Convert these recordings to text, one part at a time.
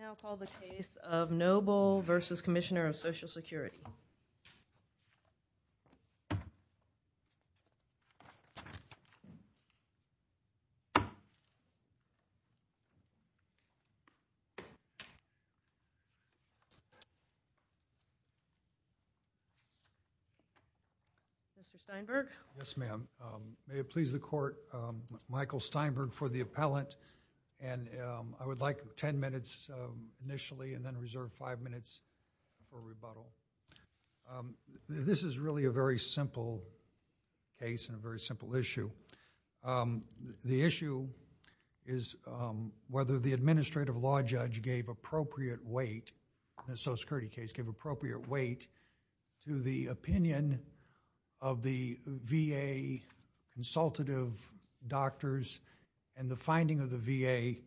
I now call the case of Noble v. Commissioner of Social Security. Mr. Steinberg. Yes, ma'am. May it please the court, Michael Steinberg for the appellant I would like ten minutes initially and then reserve five minutes for rebuttal. This is really a very simple case and a very simple issue. The issue is whether the administrative law judge gave appropriate weight, in the social security case, gave appropriate weight to the opinion of the VA consultative doctors and the finding of the VA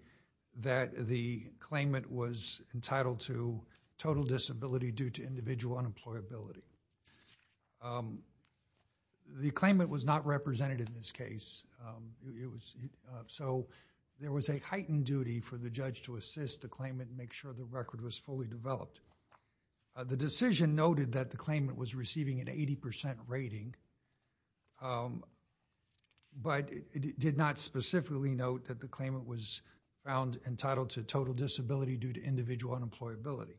that the claimant was entitled to total disability due to individual unemployability. The claimant was not represented in this case. So there was a heightened duty for the judge to assist the claimant and make sure the record was fully developed. The decision noted that the claimant was receiving an 80% rating, but it did not specifically note that the claimant was found entitled to total disability due to individual unemployability.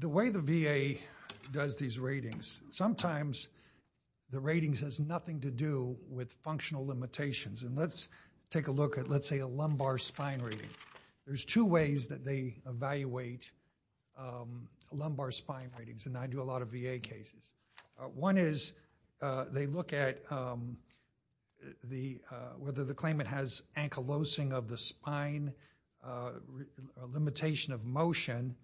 The way the VA does these ratings, sometimes the ratings has nothing to do with functional limitations. And let's take a look at, let's take a look at lumbar spine rating. There's two ways that they evaluate lumbar spine ratings and I do a lot of VA cases. One is they look at whether the claimant has ankylosing of the spine, limitation of motion,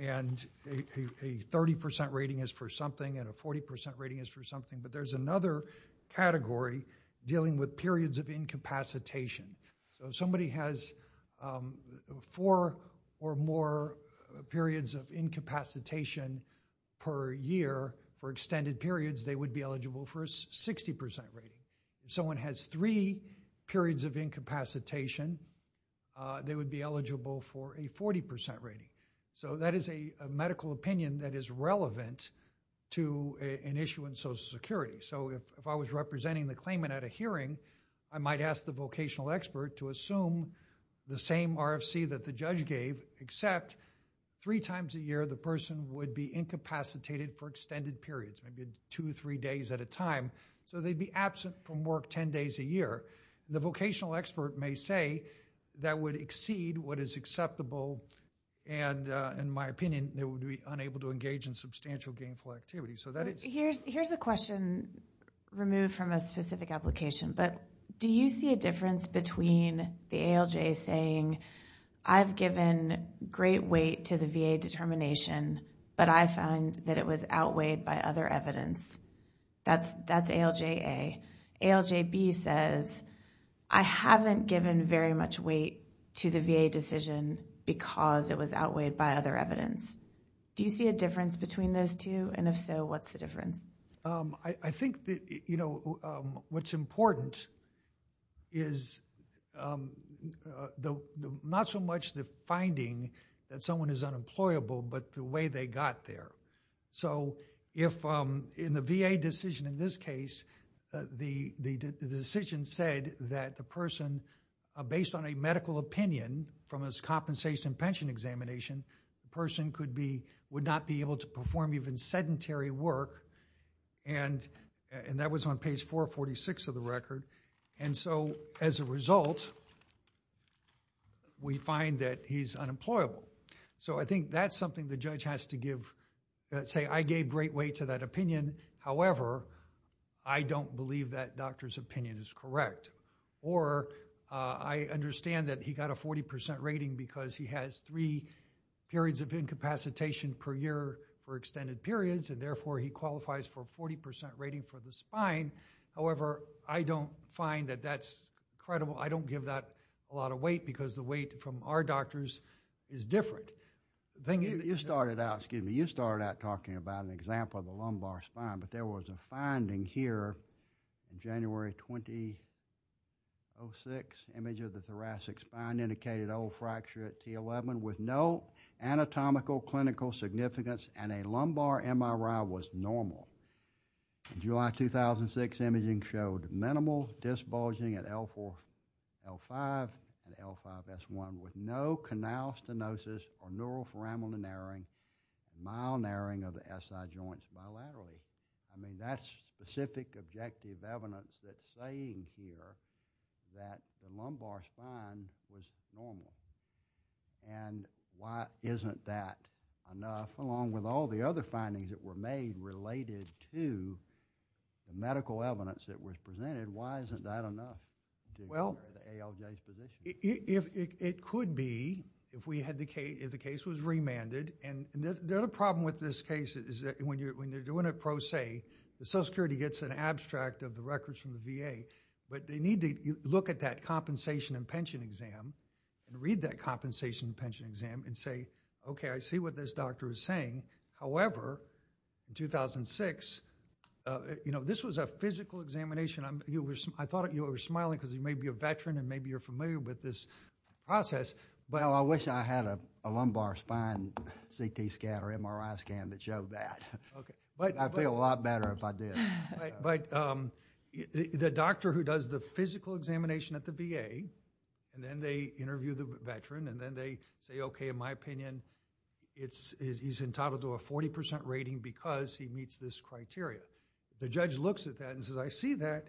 and a 30% rating is for something and a 40% rating is for something. But there's another category dealing with periods of incapacitation. So if somebody has four or more periods of incapacitation per year for extended periods, they would be eligible for a 60% rating. If someone has three periods of incapacitation, they would be eligible for a 40% rating. So that is a medical opinion that is relevant to an issue in Social Security. So if I was representing the claimant at a hearing, I might ask the vocational expert to assume the same RFC that the judge gave, except three times a year the person would be incapacitated for extended periods, maybe two, three days at a time. So they'd be absent from work 10 days a year. The vocational expert may say that would exceed what is acceptable and in my opinion, they would be unable to engage in substantial gainful activity. So that is... Here's a question removed from a specific application, but do you see a difference between the ALJ saying, I've given great weight to the VA determination, but I find that it was outweighed by other evidence? That's ALJA. ALJB says, I haven't given very much weight to the VA decision because it was outweighed by other evidence. Do you see a difference between those two? And if so, what's the difference? I think that, you know, what's important is not so much the finding that someone is unemployable, but the way they got there. So if in the VA decision in this case, the decision said that the person, based on a medical opinion from his compensation pension examination, the perform even sedentary work and that was on page 446 of the record. And so as a result, we find that he's unemployable. So I think that's something the judge has to give, say, I gave great weight to that opinion. However, I don't believe that doctor's opinion is correct. Or I understand that he got a 40% rating because he has three periods of incapacitation per year for extended periods and therefore he qualifies for 40% rating for the spine. However, I don't find that that's credible. I don't give that a lot of weight because the weight from our doctors is different. You started out, excuse me, you started out talking about an example of the lumbar spine, but there was a finding here in January 2006, image of the thoracic spine indicated old clinical significance and a lumbar MRI was normal. July 2006 imaging showed minimal disbulging at L4, L5 and L5S1 with no canal stenosis or neural foramina narrowing, mild narrowing of the SI joints bilaterally. I mean, that's specific objective evidence that's saying here that the lumbar spine was normal. Why isn't that enough along with all the other findings that were made related to the medical evidence that was presented, why isn't that enough to declare the ALJ's position? It could be if we had the case, if the case was remanded. The other problem with this case is that when you're doing a pro se, the Social Security gets an abstract of the records from the VA, but they need to look at that compensation and pension exam and read that compensation and pension exam and say, okay, I see what this doctor is saying. However, in 2006, you know, this was a physical examination. I thought you were smiling because you may be a veteran and maybe you're familiar with this process. Well, I wish I had a lumbar spine CT scan or MRI scan that showed that. I'd feel a lot better if I did. But the doctor who does the physical examination at the VA and then they interview the veteran and then they say, okay, in my opinion, he's entitled to a 40% rating because he meets this criteria. The judge looks at that and says, I see that.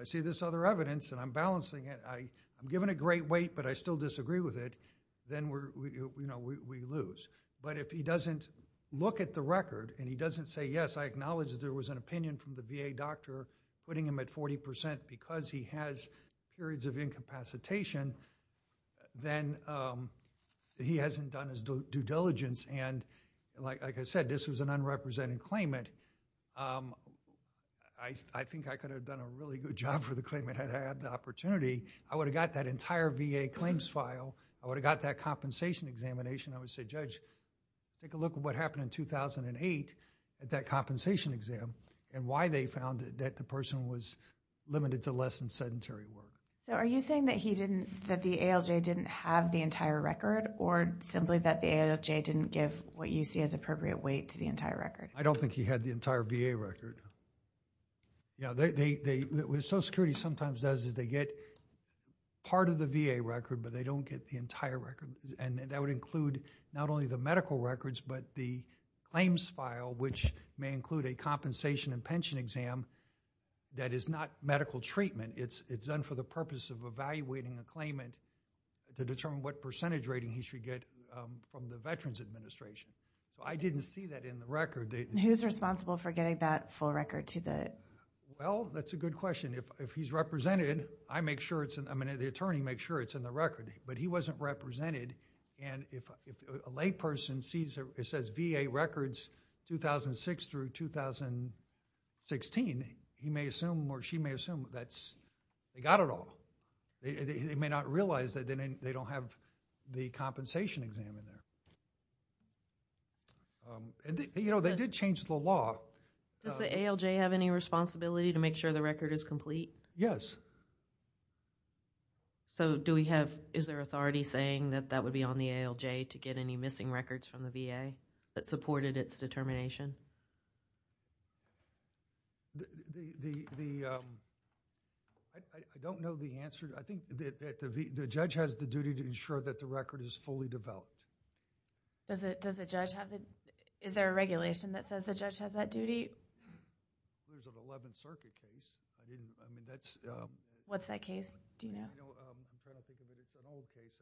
I see this other evidence and I'm balancing it. I'm giving a great weight, but I still disagree with it. Then we lose. But if he doesn't look at the record and he doesn't say, yes, I acknowledge there was an opinion from the VA doctor putting him at 40% because he has periods of incapacitation, then he hasn't done his due diligence. And like I said, this was an unrepresented claimant. I think I could have done a really good job for the claimant had I had the opportunity. I would have got that entire VA claims file. I would have got that compensation examination. I would say, judge, take a look at what happened in 2008 at that compensation exam and why they found that the person was limited to less than sedentary work. So, are you saying that he didn't, that the ALJ didn't have the entire record or simply that the ALJ didn't give what you see as appropriate weight to the entire record? I don't think he had the entire VA record. You know, they, they, they, what Social Security sometimes does is they get part of the VA record, but they don't get the entire record. And that would include not only the medical records, but the claims file, which may include a compensation and pension exam that is not medical treatment. It's, it's done for the purpose of evaluating a claimant to determine what percentage rating he should get from the Veterans Administration. So, I didn't see that in the record. Who's responsible for getting that full record to the? Well, that's a good question. If, if he's represented, I make sure it's, I mean, the attorney makes sure it's in the record, but he wasn't represented. And if, if a layperson sees it, it says VA records 2006 through 2016, he may assume or she may assume that's, they got it all. They may not realize that they don't have the compensation exam in there. You know, they did change the law. Does the ALJ have any responsibility to make sure the record is complete? Yes. So, do we have, is there authority saying that that would be on the ALJ to get any missing records from the VA that supported its determination? The, the, the, I, I don't know the answer. I think that, that the, the judge has the duty to ensure that the record is fully developed. Does it, does the judge have the, is there a regulation that says the judge has that duty? There's an 11th Circuit case. I didn't, I mean, that's... What's that case? Do you know? I don't, I'm trying to think of it. It's an old case.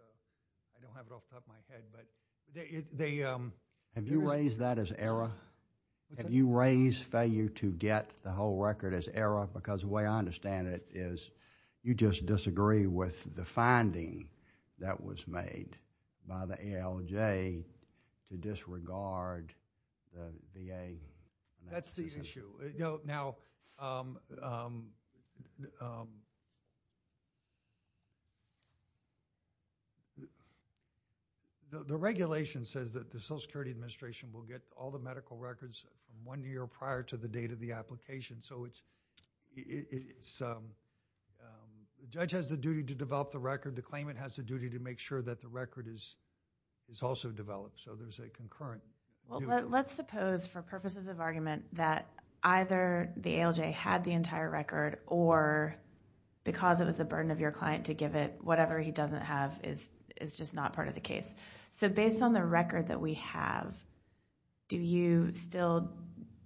I don't have it off the top of my head, but they, they... Have you raised that as error? What's that? Have you raised failure to get the whole record as error? Because the way I understand it is you just disagree with the finding that was made by the ALJ to disregard the VA. That's the issue. You know, now, the, the regulation says that the Social Security Administration will get all the medical records from one year prior to the date of the application. So it's, it's, the judge has the duty to develop the record. The claimant has the duty to make sure that the record is, is also developed. So there's a concurrent... Let's suppose for purposes of argument that either the ALJ had the entire record or because it was the burden of your client to give it whatever he doesn't have is, is just not part of the case. So based on the record that we have, do you still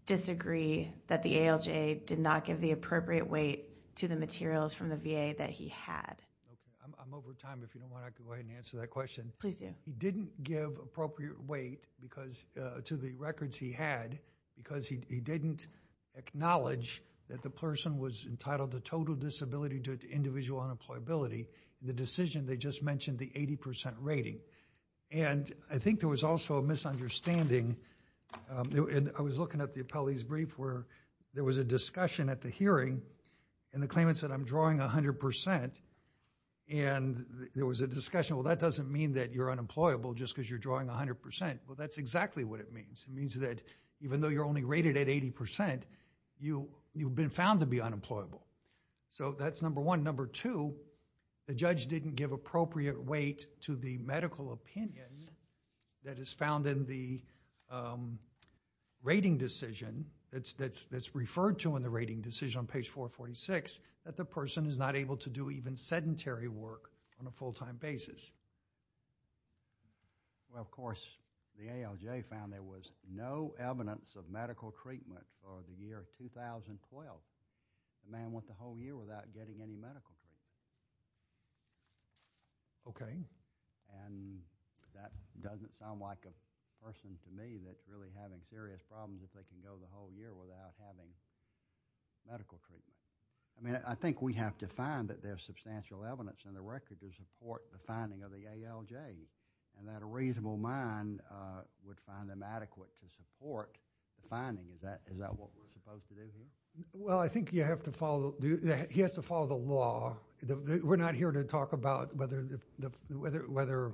disagree that the ALJ did not give the appropriate weight to the materials from the VA that he had? Okay. I'm, I'm over time. If you don't want, I can go ahead and answer that question. Please do. He didn't give appropriate weight because, to the records he had, because he didn't acknowledge that the person was entitled to total disability due to individual unemployability. The decision, they just mentioned the 80% rating. And I think there was also a misunderstanding. And I was looking at the appellee's brief where there was a discussion at the hearing and the claimant said, I'm drawing 100%. And there was a discussion. Well, that doesn't mean that you're unemployable just because you're drawing 100%. Well, that's exactly what it means. It means that even though you're only rated at 80%, you, you've been found to be unemployable. So that's number one. Number two, the judge didn't give appropriate weight to the medical opinion that is found in the rating decision that's, that's, that's referred to in the rating decision on page 446, that the person is not able to do even sedentary work on a full time basis. Well, of course, the ALJ found there was no evidence of medical treatment for the year 2012. The man went the whole year without getting any medical treatment. Okay. And that doesn't sound like a person to me that's really having serious problems if they can go the whole year without having medical treatment. I mean, I think we have to find that there's substantial evidence in the record to support the finding of the ALJ and that a reasonable mind would find them adequate to support the finding. Is that, is that what we're supposed to do here? Well, I think you have to follow, he has to follow the law. We're not here to talk about whether, whether, whether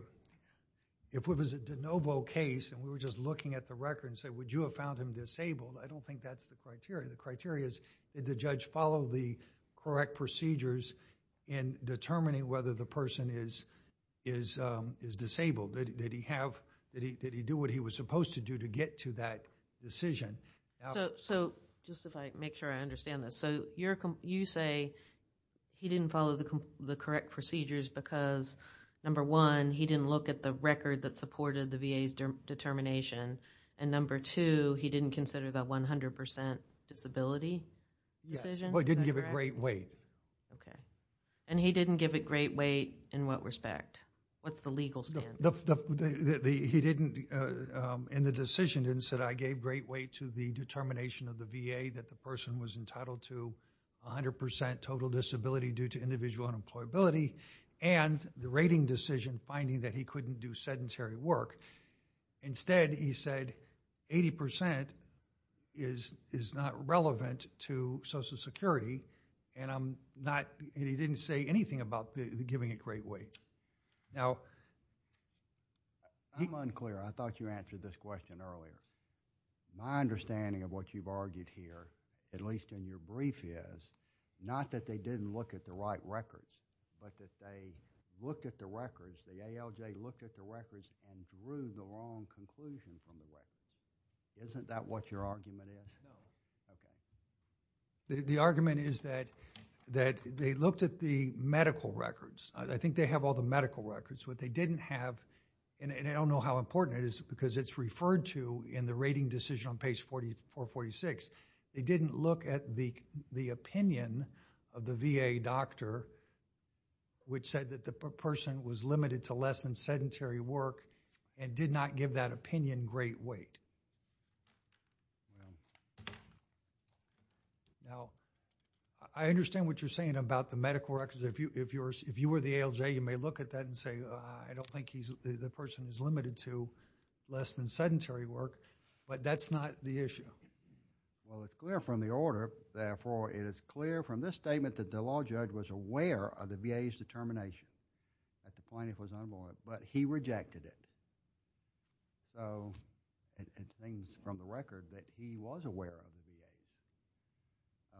if it was a de novo case and we were just looking at the record and said, would you have found him disabled? I don't think that's the criteria. The criteria is did the judge follow the correct procedures in determining whether the person is, is, um, is disabled? Did he have, did he, did he do what he was supposed to do to get to that decision? So, so just if I make sure I understand this. So you're, you say he didn't follow the correct procedures because number one, he didn't look at the record that supported the VA's determination. And number two, he didn't consider that 100% disability decision? Well, he didn't give it great weight. Okay. And he didn't give it great weight in what respect? What's the legal standard? He didn't, in the decision, didn't said I gave great weight to the determination of the VA that the person was entitled to 100% total disability due to individual unemployability and the rating decision finding that he couldn't do is, is not relevant to Social Security. And I'm not, he didn't say anything about the giving it great weight. Now, I'm unclear. I thought you answered this question earlier. My understanding of what you've argued here, at least in your brief, is not that they didn't look at the right records, but that they looked at the records, the ALJ looked at the records and drew the wrong conclusion from the records. Isn't that what your argument is? No. Okay. The argument is that, that they looked at the medical records. I think they have all the medical records. What they didn't have, and I don't know how important it is because it's referred to in the rating decision on page 4446. They didn't look at the, the opinion of the VA doctor which said that the person was limited to less than sedentary work and did not give that opinion great weight. Now, I understand what you're saying about the medical records. If you, if you're, if you were the ALJ, you may look at that and say, I don't think he's, the person is limited to less than sedentary work, but that's not the issue. Well, it's clear from the order. Therefore, it is clear from this statement that the law judge was aware of the VA's determination at the point it was unlawful, but he rejected it. So, it seems from the record that he was aware of the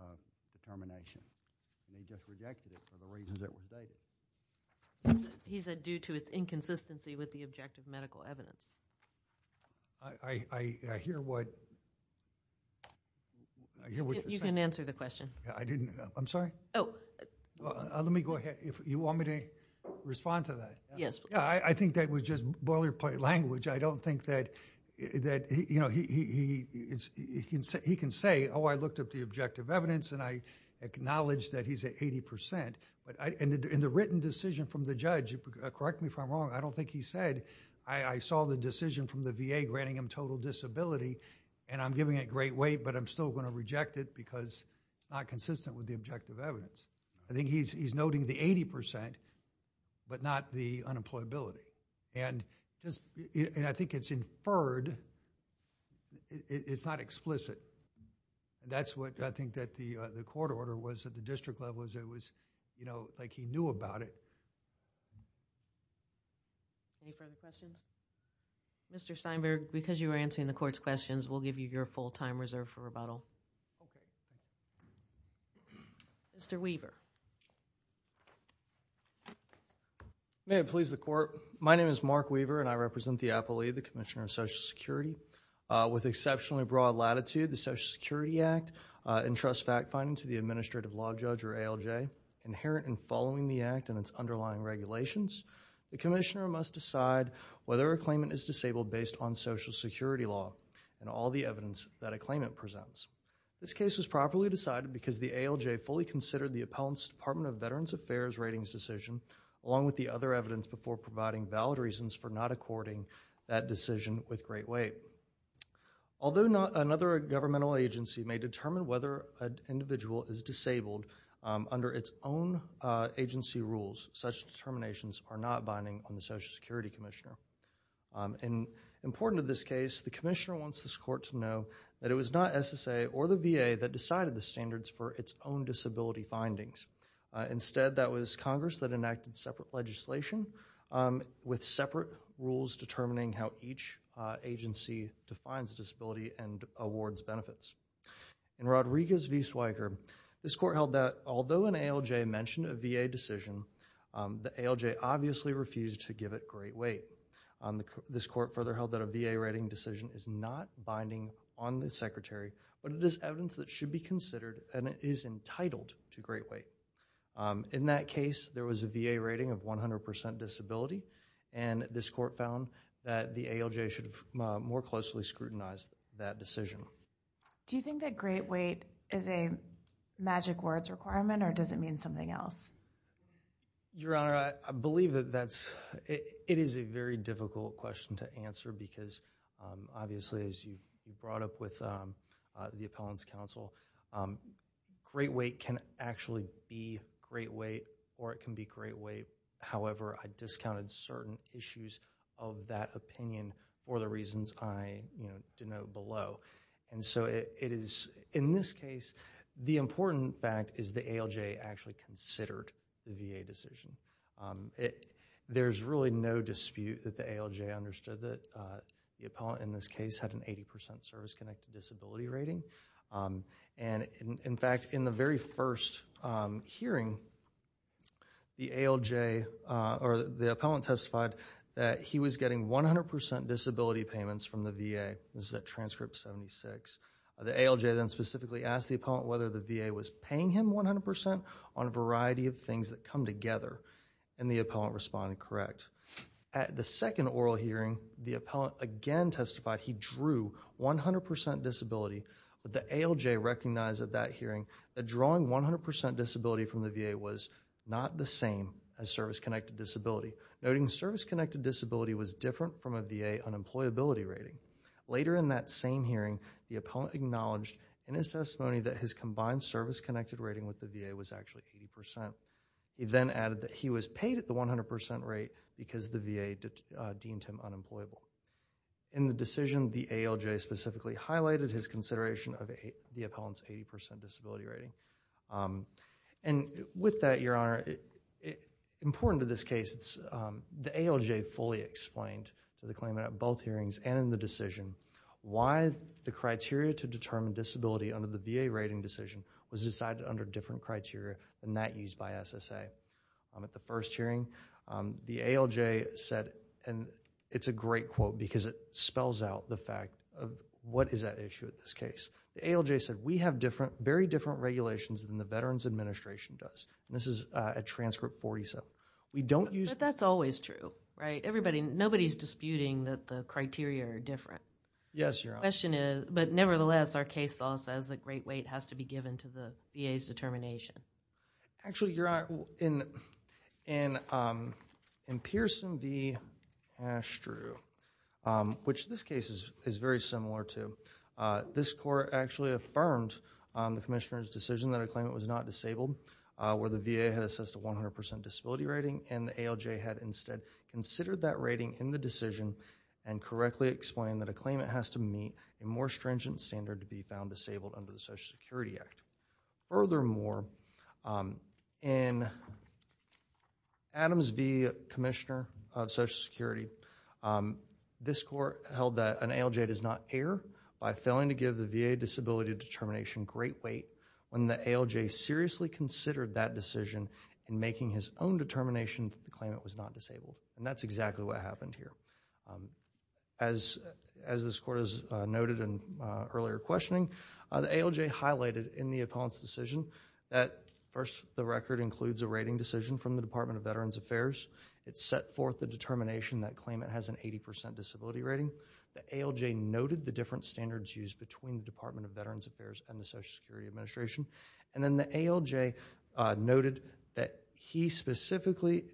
VA's determination and he just rejected it for the reasons it was dated. He said due to its inconsistency with the objective medical evidence. I, I, I hear what, I hear what you're saying. You can answer the question. I didn't, I'm sorry. Oh. Let me go ahead. If you want me to respond to that. Yes. I think that was just boilerplate language. I don't think that, that, you know, he, he, he can say, oh, I looked up the objective evidence and I acknowledge that he's at 80 percent, but I, in the, in the written decision from the judge, correct me if I'm wrong, I don't think he said, I, I saw the decision from the VA granting him total disability and I'm giving it great weight, but I'm still going to reject it because it's not consistent with the objective evidence. I think he's, he's noting the 80 percent, but not the unemployability. And just, and I think it's inferred, it's not explicit. And that's what I think that the, the court order was at the district level as it was, you know, like he knew about it. Any further questions? Mr. Steinberg, because you were answering the court's questions, we'll give you your full-time reserve for rebuttal. Mr. Weaver. May it please the court. My name is Mark Weaver and I represent the Appellee, the Commissioner of Social Security. With exceptionally broad latitude, the Social Security Act entrusts fact-finding to the administrative law judge, or ALJ, inherent in following the act and its underlying regulations. The commissioner must decide whether a claimant is disabled based on social security law. And all the evidence that a claimant presents. This case was properly decided because the ALJ fully considered the Appellant's Department of Veterans Affairs ratings decision, along with the other evidence, before providing valid reasons for not according that decision with great weight. Although not another governmental agency may determine whether an individual is disabled under its own agency rules, such determinations are not binding on the Social Security Commissioner. And important to this case, the commissioner wants this court to know that it was not SSA or the VA that decided the standards for its own disability findings. Instead, that was Congress that enacted separate legislation with separate rules determining how each agency defines disability and awards benefits. In Rodriguez v. Zweigert, this court held that although an ALJ mentioned a VA decision, the ALJ obviously refused to give it great weight. This court further held that a VA rating decision is not binding on the secretary, but it is evidence that should be considered and is entitled to great weight. In that case, there was a VA rating of 100% disability. And this court found that the ALJ should have more closely scrutinized that decision. Do you think that great weight is a magic words requirement or does it mean something else? Your Honor, I believe that that's, it is a very difficult question to answer because obviously as you brought up with the appellant's counsel, great weight can actually be great weight or it can be great weight. However, I discounted certain issues of that opinion for the reasons I, you know, denote below. And so it is, in this case, the important fact is the ALJ actually considered the VA decision. There's really no dispute that the ALJ understood that the appellant in this case had an 80% service-connected disability rating. And in fact, in the very first hearing, the ALJ or the appellant testified that he was getting 100% disability payments from the VA. This is at transcript 76. The ALJ then specifically asked the appellant whether the VA was paying him 100% on a variety of things that come together and the appellant responded correct. At the second oral hearing, the appellant again testified he drew 100% disability. But the ALJ recognized at that hearing that drawing 100% disability from the VA was not the same as service-connected disability. Noting service-connected disability was different from a VA unemployability rating. Later in that same hearing, the appellant acknowledged in his testimony that his combined service-connected rating with the VA was actually 80%. He then added that he was paid at the 100% rate because the VA deemed him unemployable. In the decision, the ALJ specifically highlighted his consideration of the appellant's 80% disability rating. And with that, Your Honor, important to this case, the ALJ fully explained to the claimant at both hearings and in the decision why the criteria to determine disability under the VA rating decision was decided under different criteria than that used by SSA. At the first hearing, the ALJ said, and it's a great quote because it spells out the fact of what is at issue at this case. The ALJ said, we have different, very different regulations than the Veterans Administration does. And this is at transcript 47. We don't use... But that's always true, right? Everybody, nobody's disputing that the criteria are different. Yes, Your Honor. The question is, but nevertheless, our case law says that great weight has to be given to the VA's determination. Actually, Your Honor, in Pearson v. Astrew, which this case is very similar to, this court actually affirmed the commissioner's decision that a claimant was not disabled where the VA had assessed a 100% disability rating and the ALJ had instead considered that rating in the decision and correctly explained that a claimant has to meet a more stringent standard to be found disabled under the Social Security Act. Furthermore, in Adams v. Commissioner of Social Security, this court held that an ALJ does by failing to give the VA disability determination great weight when the ALJ seriously considered that decision in making his own determination that the claimant was not disabled. And that's exactly what happened here. As this court has noted in earlier questioning, the ALJ highlighted in the appellant's decision that first, the record includes a rating decision from the Department of Veterans Affairs. It set forth the determination that claimant has an 80% disability rating. The ALJ noted the different standards used between the Department of Veterans Affairs and the Social Security Administration. And then the ALJ noted that he specifically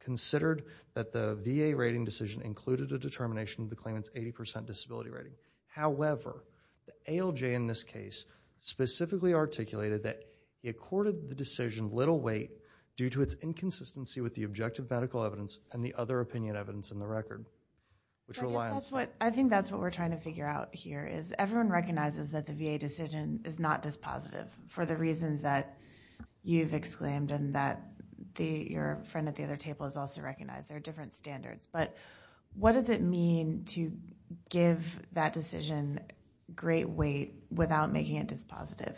considered that the VA rating decision included a determination of the claimant's 80% disability rating. However, the ALJ in this case specifically articulated that he accorded the decision little weight due to its inconsistency with the objective medical evidence and the other I think that's what we're trying to figure out here, is everyone recognizes that the VA decision is not dispositive for the reasons that you've exclaimed and that your friend at the other table has also recognized. There are different standards. But what does it mean to give that decision great weight without making it dispositive?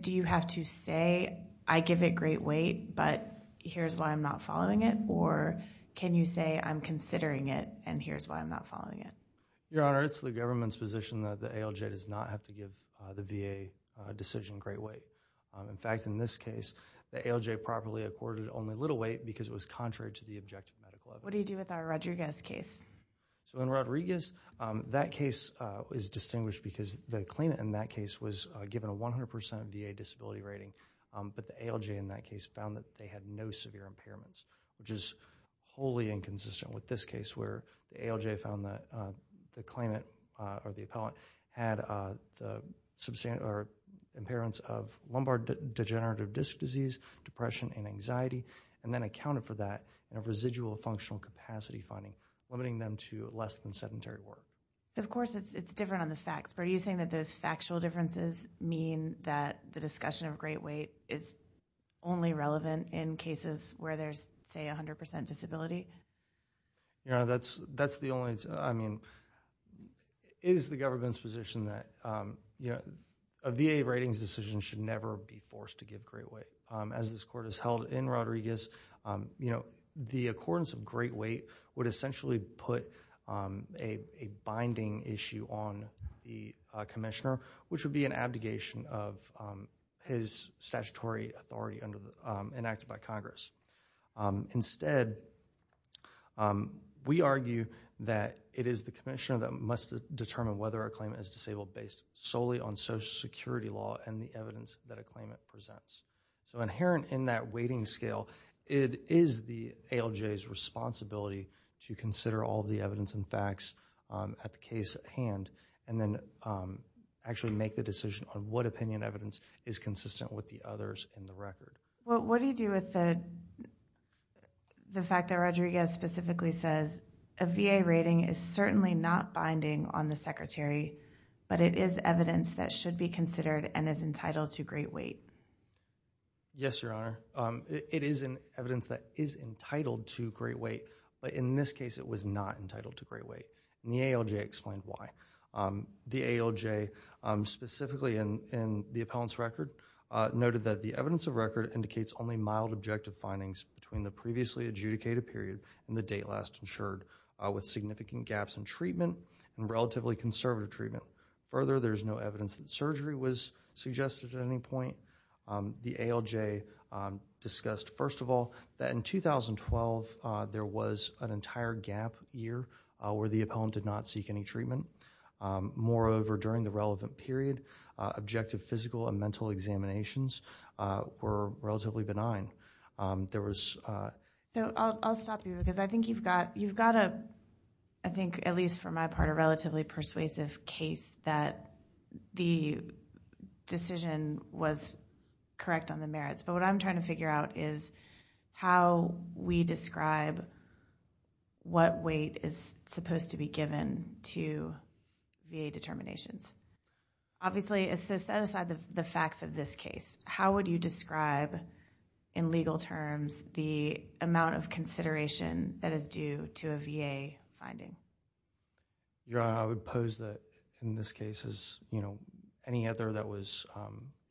Do you have to say, I give it great weight, but here's why I'm not following it? Or can you say, I'm considering it and here's why I'm not following it? Your Honor, it's the government's position that the ALJ does not have to give the VA decision great weight. In fact, in this case, the ALJ properly accorded only little weight because it was contrary to the objective medical evidence. What do you do with our Rodriguez case? So in Rodriguez, that case is distinguished because the claimant in that case was given a 100% VA disability rating. But the ALJ in that case found that they had no severe impairments, which is wholly inconsistent with this case where the ALJ found that the claimant or the appellant had the impairments of lumbar degenerative disc disease, depression, and anxiety, and then accounted for that in a residual functional capacity finding, limiting them to less than sedentary work. So of course, it's different on the facts. But are you saying that those factual differences mean that the discussion of great weight is only relevant in cases where there's, say, 100% disability? Your Honor, that's the only, I mean, it is the government's position that, you know, a VA ratings decision should never be forced to give great weight. As this court has held in Rodriguez, you know, the accordance of great weight would essentially put a binding issue on the commissioner, which would be an abdication of his statutory authority enacted by Congress. Instead, we argue that it is the commissioner that must determine whether a claimant is disabled based solely on Social Security law and the evidence that a claimant presents. So inherent in that weighting scale, it is the ALJ's responsibility to consider all the evidence and facts at the case at hand and then actually make the decision on what opinion evidence is consistent with the others in the record. Well, what do you do with the fact that Rodriguez specifically says, a VA rating is certainly not binding on the Secretary, but it is evidence that should be considered and is entitled to great weight? Yes, Your Honor. It is an evidence that is entitled to great weight, but in this case, it was not entitled to great weight. And the ALJ explained why. The ALJ, specifically in the appellant's record, noted that the evidence of record indicates only mild objective findings between the previously adjudicated period and the date last insured with significant gaps in treatment and relatively conservative treatment. Further, there's no evidence that surgery was suggested at any point. The ALJ discussed, first of all, that in 2012, there was an entire gap year where the appellant did not seek any treatment. Moreover, during the relevant period, objective physical and mental examinations were relatively benign. So I'll stop you because I think you've got, I think, at least for my part, a relatively persuasive case that the decision was correct on the merits. But what I'm trying to figure out is how we describe what weight is supposed to be given to VA determinations. Obviously, so set aside the facts of this case. How would you describe in legal terms the amount of consideration that is due to a VA finding? Your Honor, I would pose that in this case as, you know, any other that was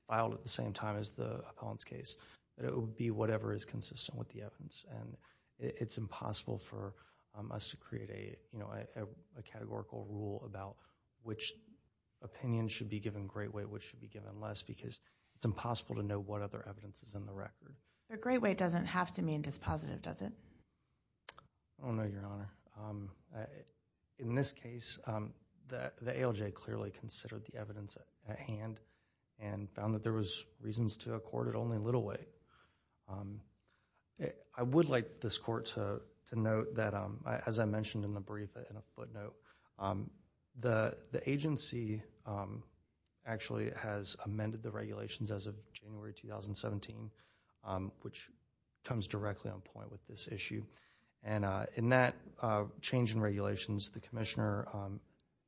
filed at the same time as the appellant's case, that it would be whatever is consistent with the evidence. And it's impossible for us to create a, you know, a categorical rule about which opinion should be given great weight, which should be given less, because it's impossible to know what other evidence is in the record. But great weight doesn't have to mean dispositive, does it? I don't know, Your Honor. In this case, the ALJ clearly considered the evidence at hand and found that there was reasons to accord it only little weight. I would like this court to note that, as I mentioned in the brief and a footnote, the agency actually has amended the regulations as of January 2017, which comes directly on point with this issue. And in that change in regulations, the Commissioner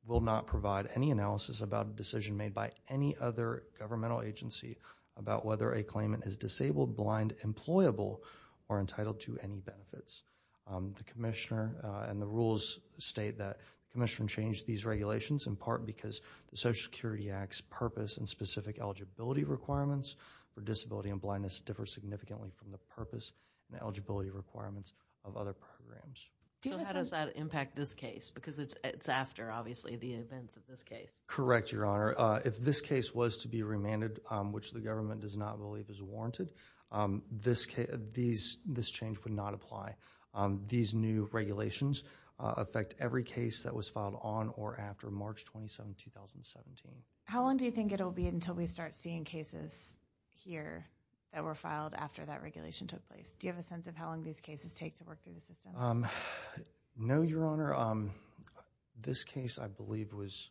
will not provide any analysis about a decision made by any other governmental agency about whether a claimant is disabled, blind, employable, or entitled to any benefits. The Commissioner and the rules state that the Commissioner changed these regulations in part because the Social Security Act's purpose and specific eligibility requirements for disability and blindness differ significantly from the purpose and eligibility requirements of other programs. So how does that impact this case? Because it's after, obviously, the events of this case. Correct, Your Honor. If this case was to be remanded, which the government does not believe is warranted, this change would not apply. These new regulations affect every case that was filed on or after March 27, 2017. How long do you think it'll be until we start seeing cases here that were filed after that regulation took place? Do you have a sense of how long these cases take to work through the system? No, Your Honor. This case, I believe, was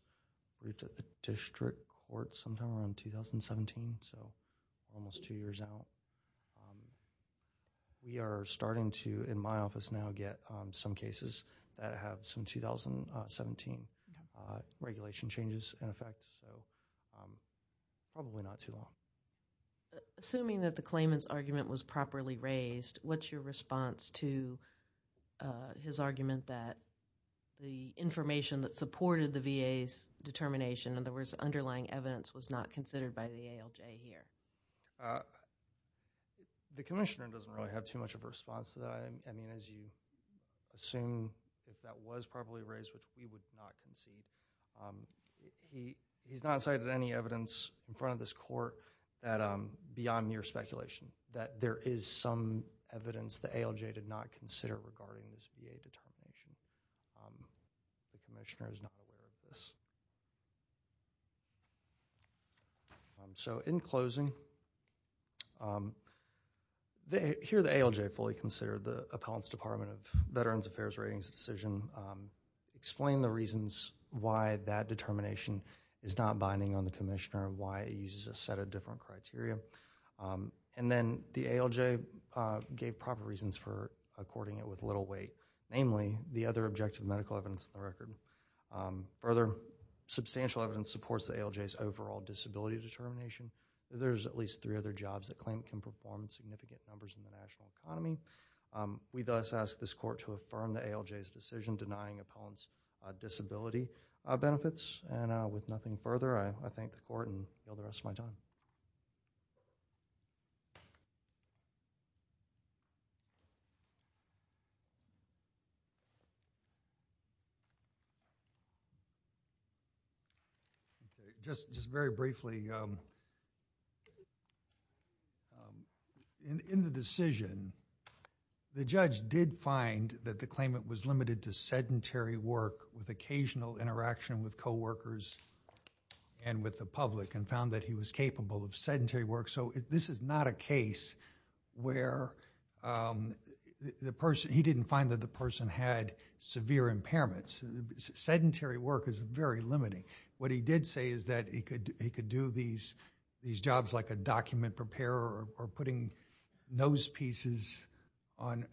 briefed at the District Court sometime around 2017, so almost two years out. We are starting to, in my office now, get some cases that have some 2017 regulation changes in effect, so probably not too long. Assuming that the claimant's argument was properly raised, what's your response to his argument that the information that supported the VA's determination, in other words, underlying evidence, was not considered by the ALJ here? The Commissioner doesn't really have too much of a response to that. As you assume, if that was properly raised, which we would not concede, he's not cited any evidence in front of this Court that, beyond mere speculation, that there is some evidence the ALJ did not consider regarding this VA determination. So, in closing, here the ALJ fully considered the Appellant's Department of Veterans Affairs Ratings decision, explained the reasons why that determination is not binding on the Commissioner, why it uses a set of different criteria, and then the ALJ gave proper reasons for according it with little weight, namely, the other objective medical evidence in the record. Further, substantial evidence supports the ALJ's overall disability determination. There's at least three other jobs the claimant can perform in significant numbers in the national economy. We thus ask this Court to affirm the ALJ's decision denying Appellant's disability benefits. And with nothing further, I thank the Court and yield the rest of my time. Okay. Just very briefly, in the decision, the judge did find that the claimant was limited to sedentary work with occasional interaction with coworkers and with the public and found that he was capable of sedentary work. So, this is not a case where the person, he didn't find that the person had severe impairments. Sedentary work is very limiting. What he did say is that he could do these jobs like a document preparer or putting nose pieces on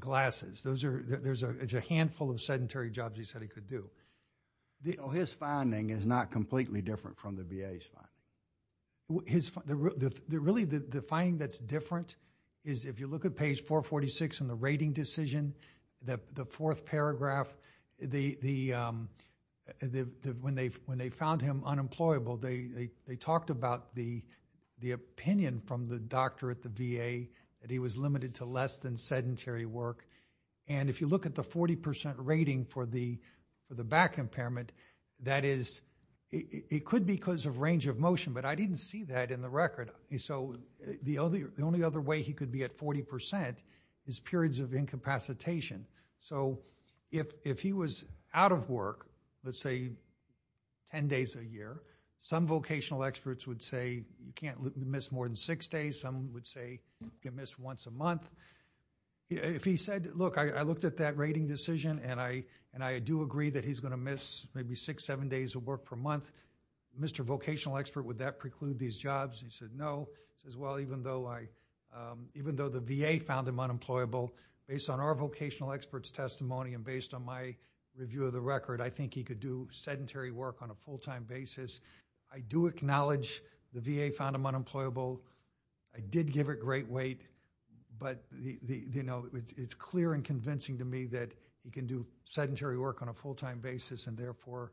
glasses. There's a handful of sedentary jobs he said he could do. His finding is not completely different from the VA's finding. Really, the finding that's different is if you look at page 446 in the rating decision, the fourth paragraph, when they found him unemployable, they talked about the opinion from the doctor at the VA that he was limited to less than sedentary work. And if you look at the 40% rating for the back impairment, that is, it could be because of range of motion, but I didn't see that in the record. So, the only other way he could be at 40% is periods of incapacitation. So, if he was out of work, let's say 10 days a year, some vocational experts would say you can't miss more than six days. Some would say you can miss once a month. If he said, look, I looked at that rating decision and I do agree that he's going to miss maybe six, seven days of work per month, Mr. Vocational Expert, would that preclude these jobs? He said, no. He says, well, even though the VA found him unemployable, based on our vocational experts' testimony and based on my review of the record, I think he could do sedentary work on a full-time basis. I do acknowledge the VA found him unemployable. I did give it great weight, but it's clear and convincing to me that he can do sedentary work on a full-time basis, and therefore,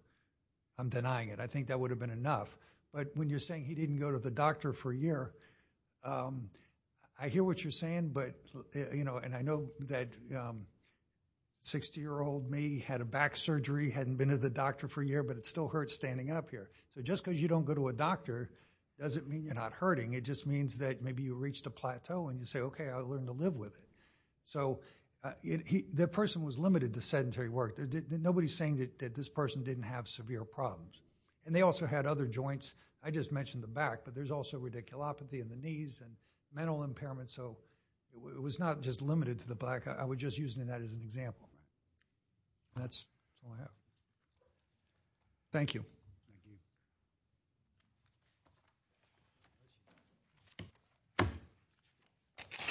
I'm denying it. I think that would have been enough. But when you're saying he didn't go to the doctor for a year, I hear what you're saying, and I know that 60-year-old me had a back surgery, hadn't been to the doctor for a year, but it still hurts standing up here. So, just because you don't go to a doctor doesn't mean you're not hurting. It just means that maybe you reached a plateau and you say, okay, I learned to live with it. So, the person was limited to sedentary work. Nobody's saying that this person didn't have severe problems, and they also had other joints. I just mentioned the back, but there's also radiculopathy in the knees and mental impairment. So, it was not just limited to the back. I was just using that as an example. That's all I have. Thank you.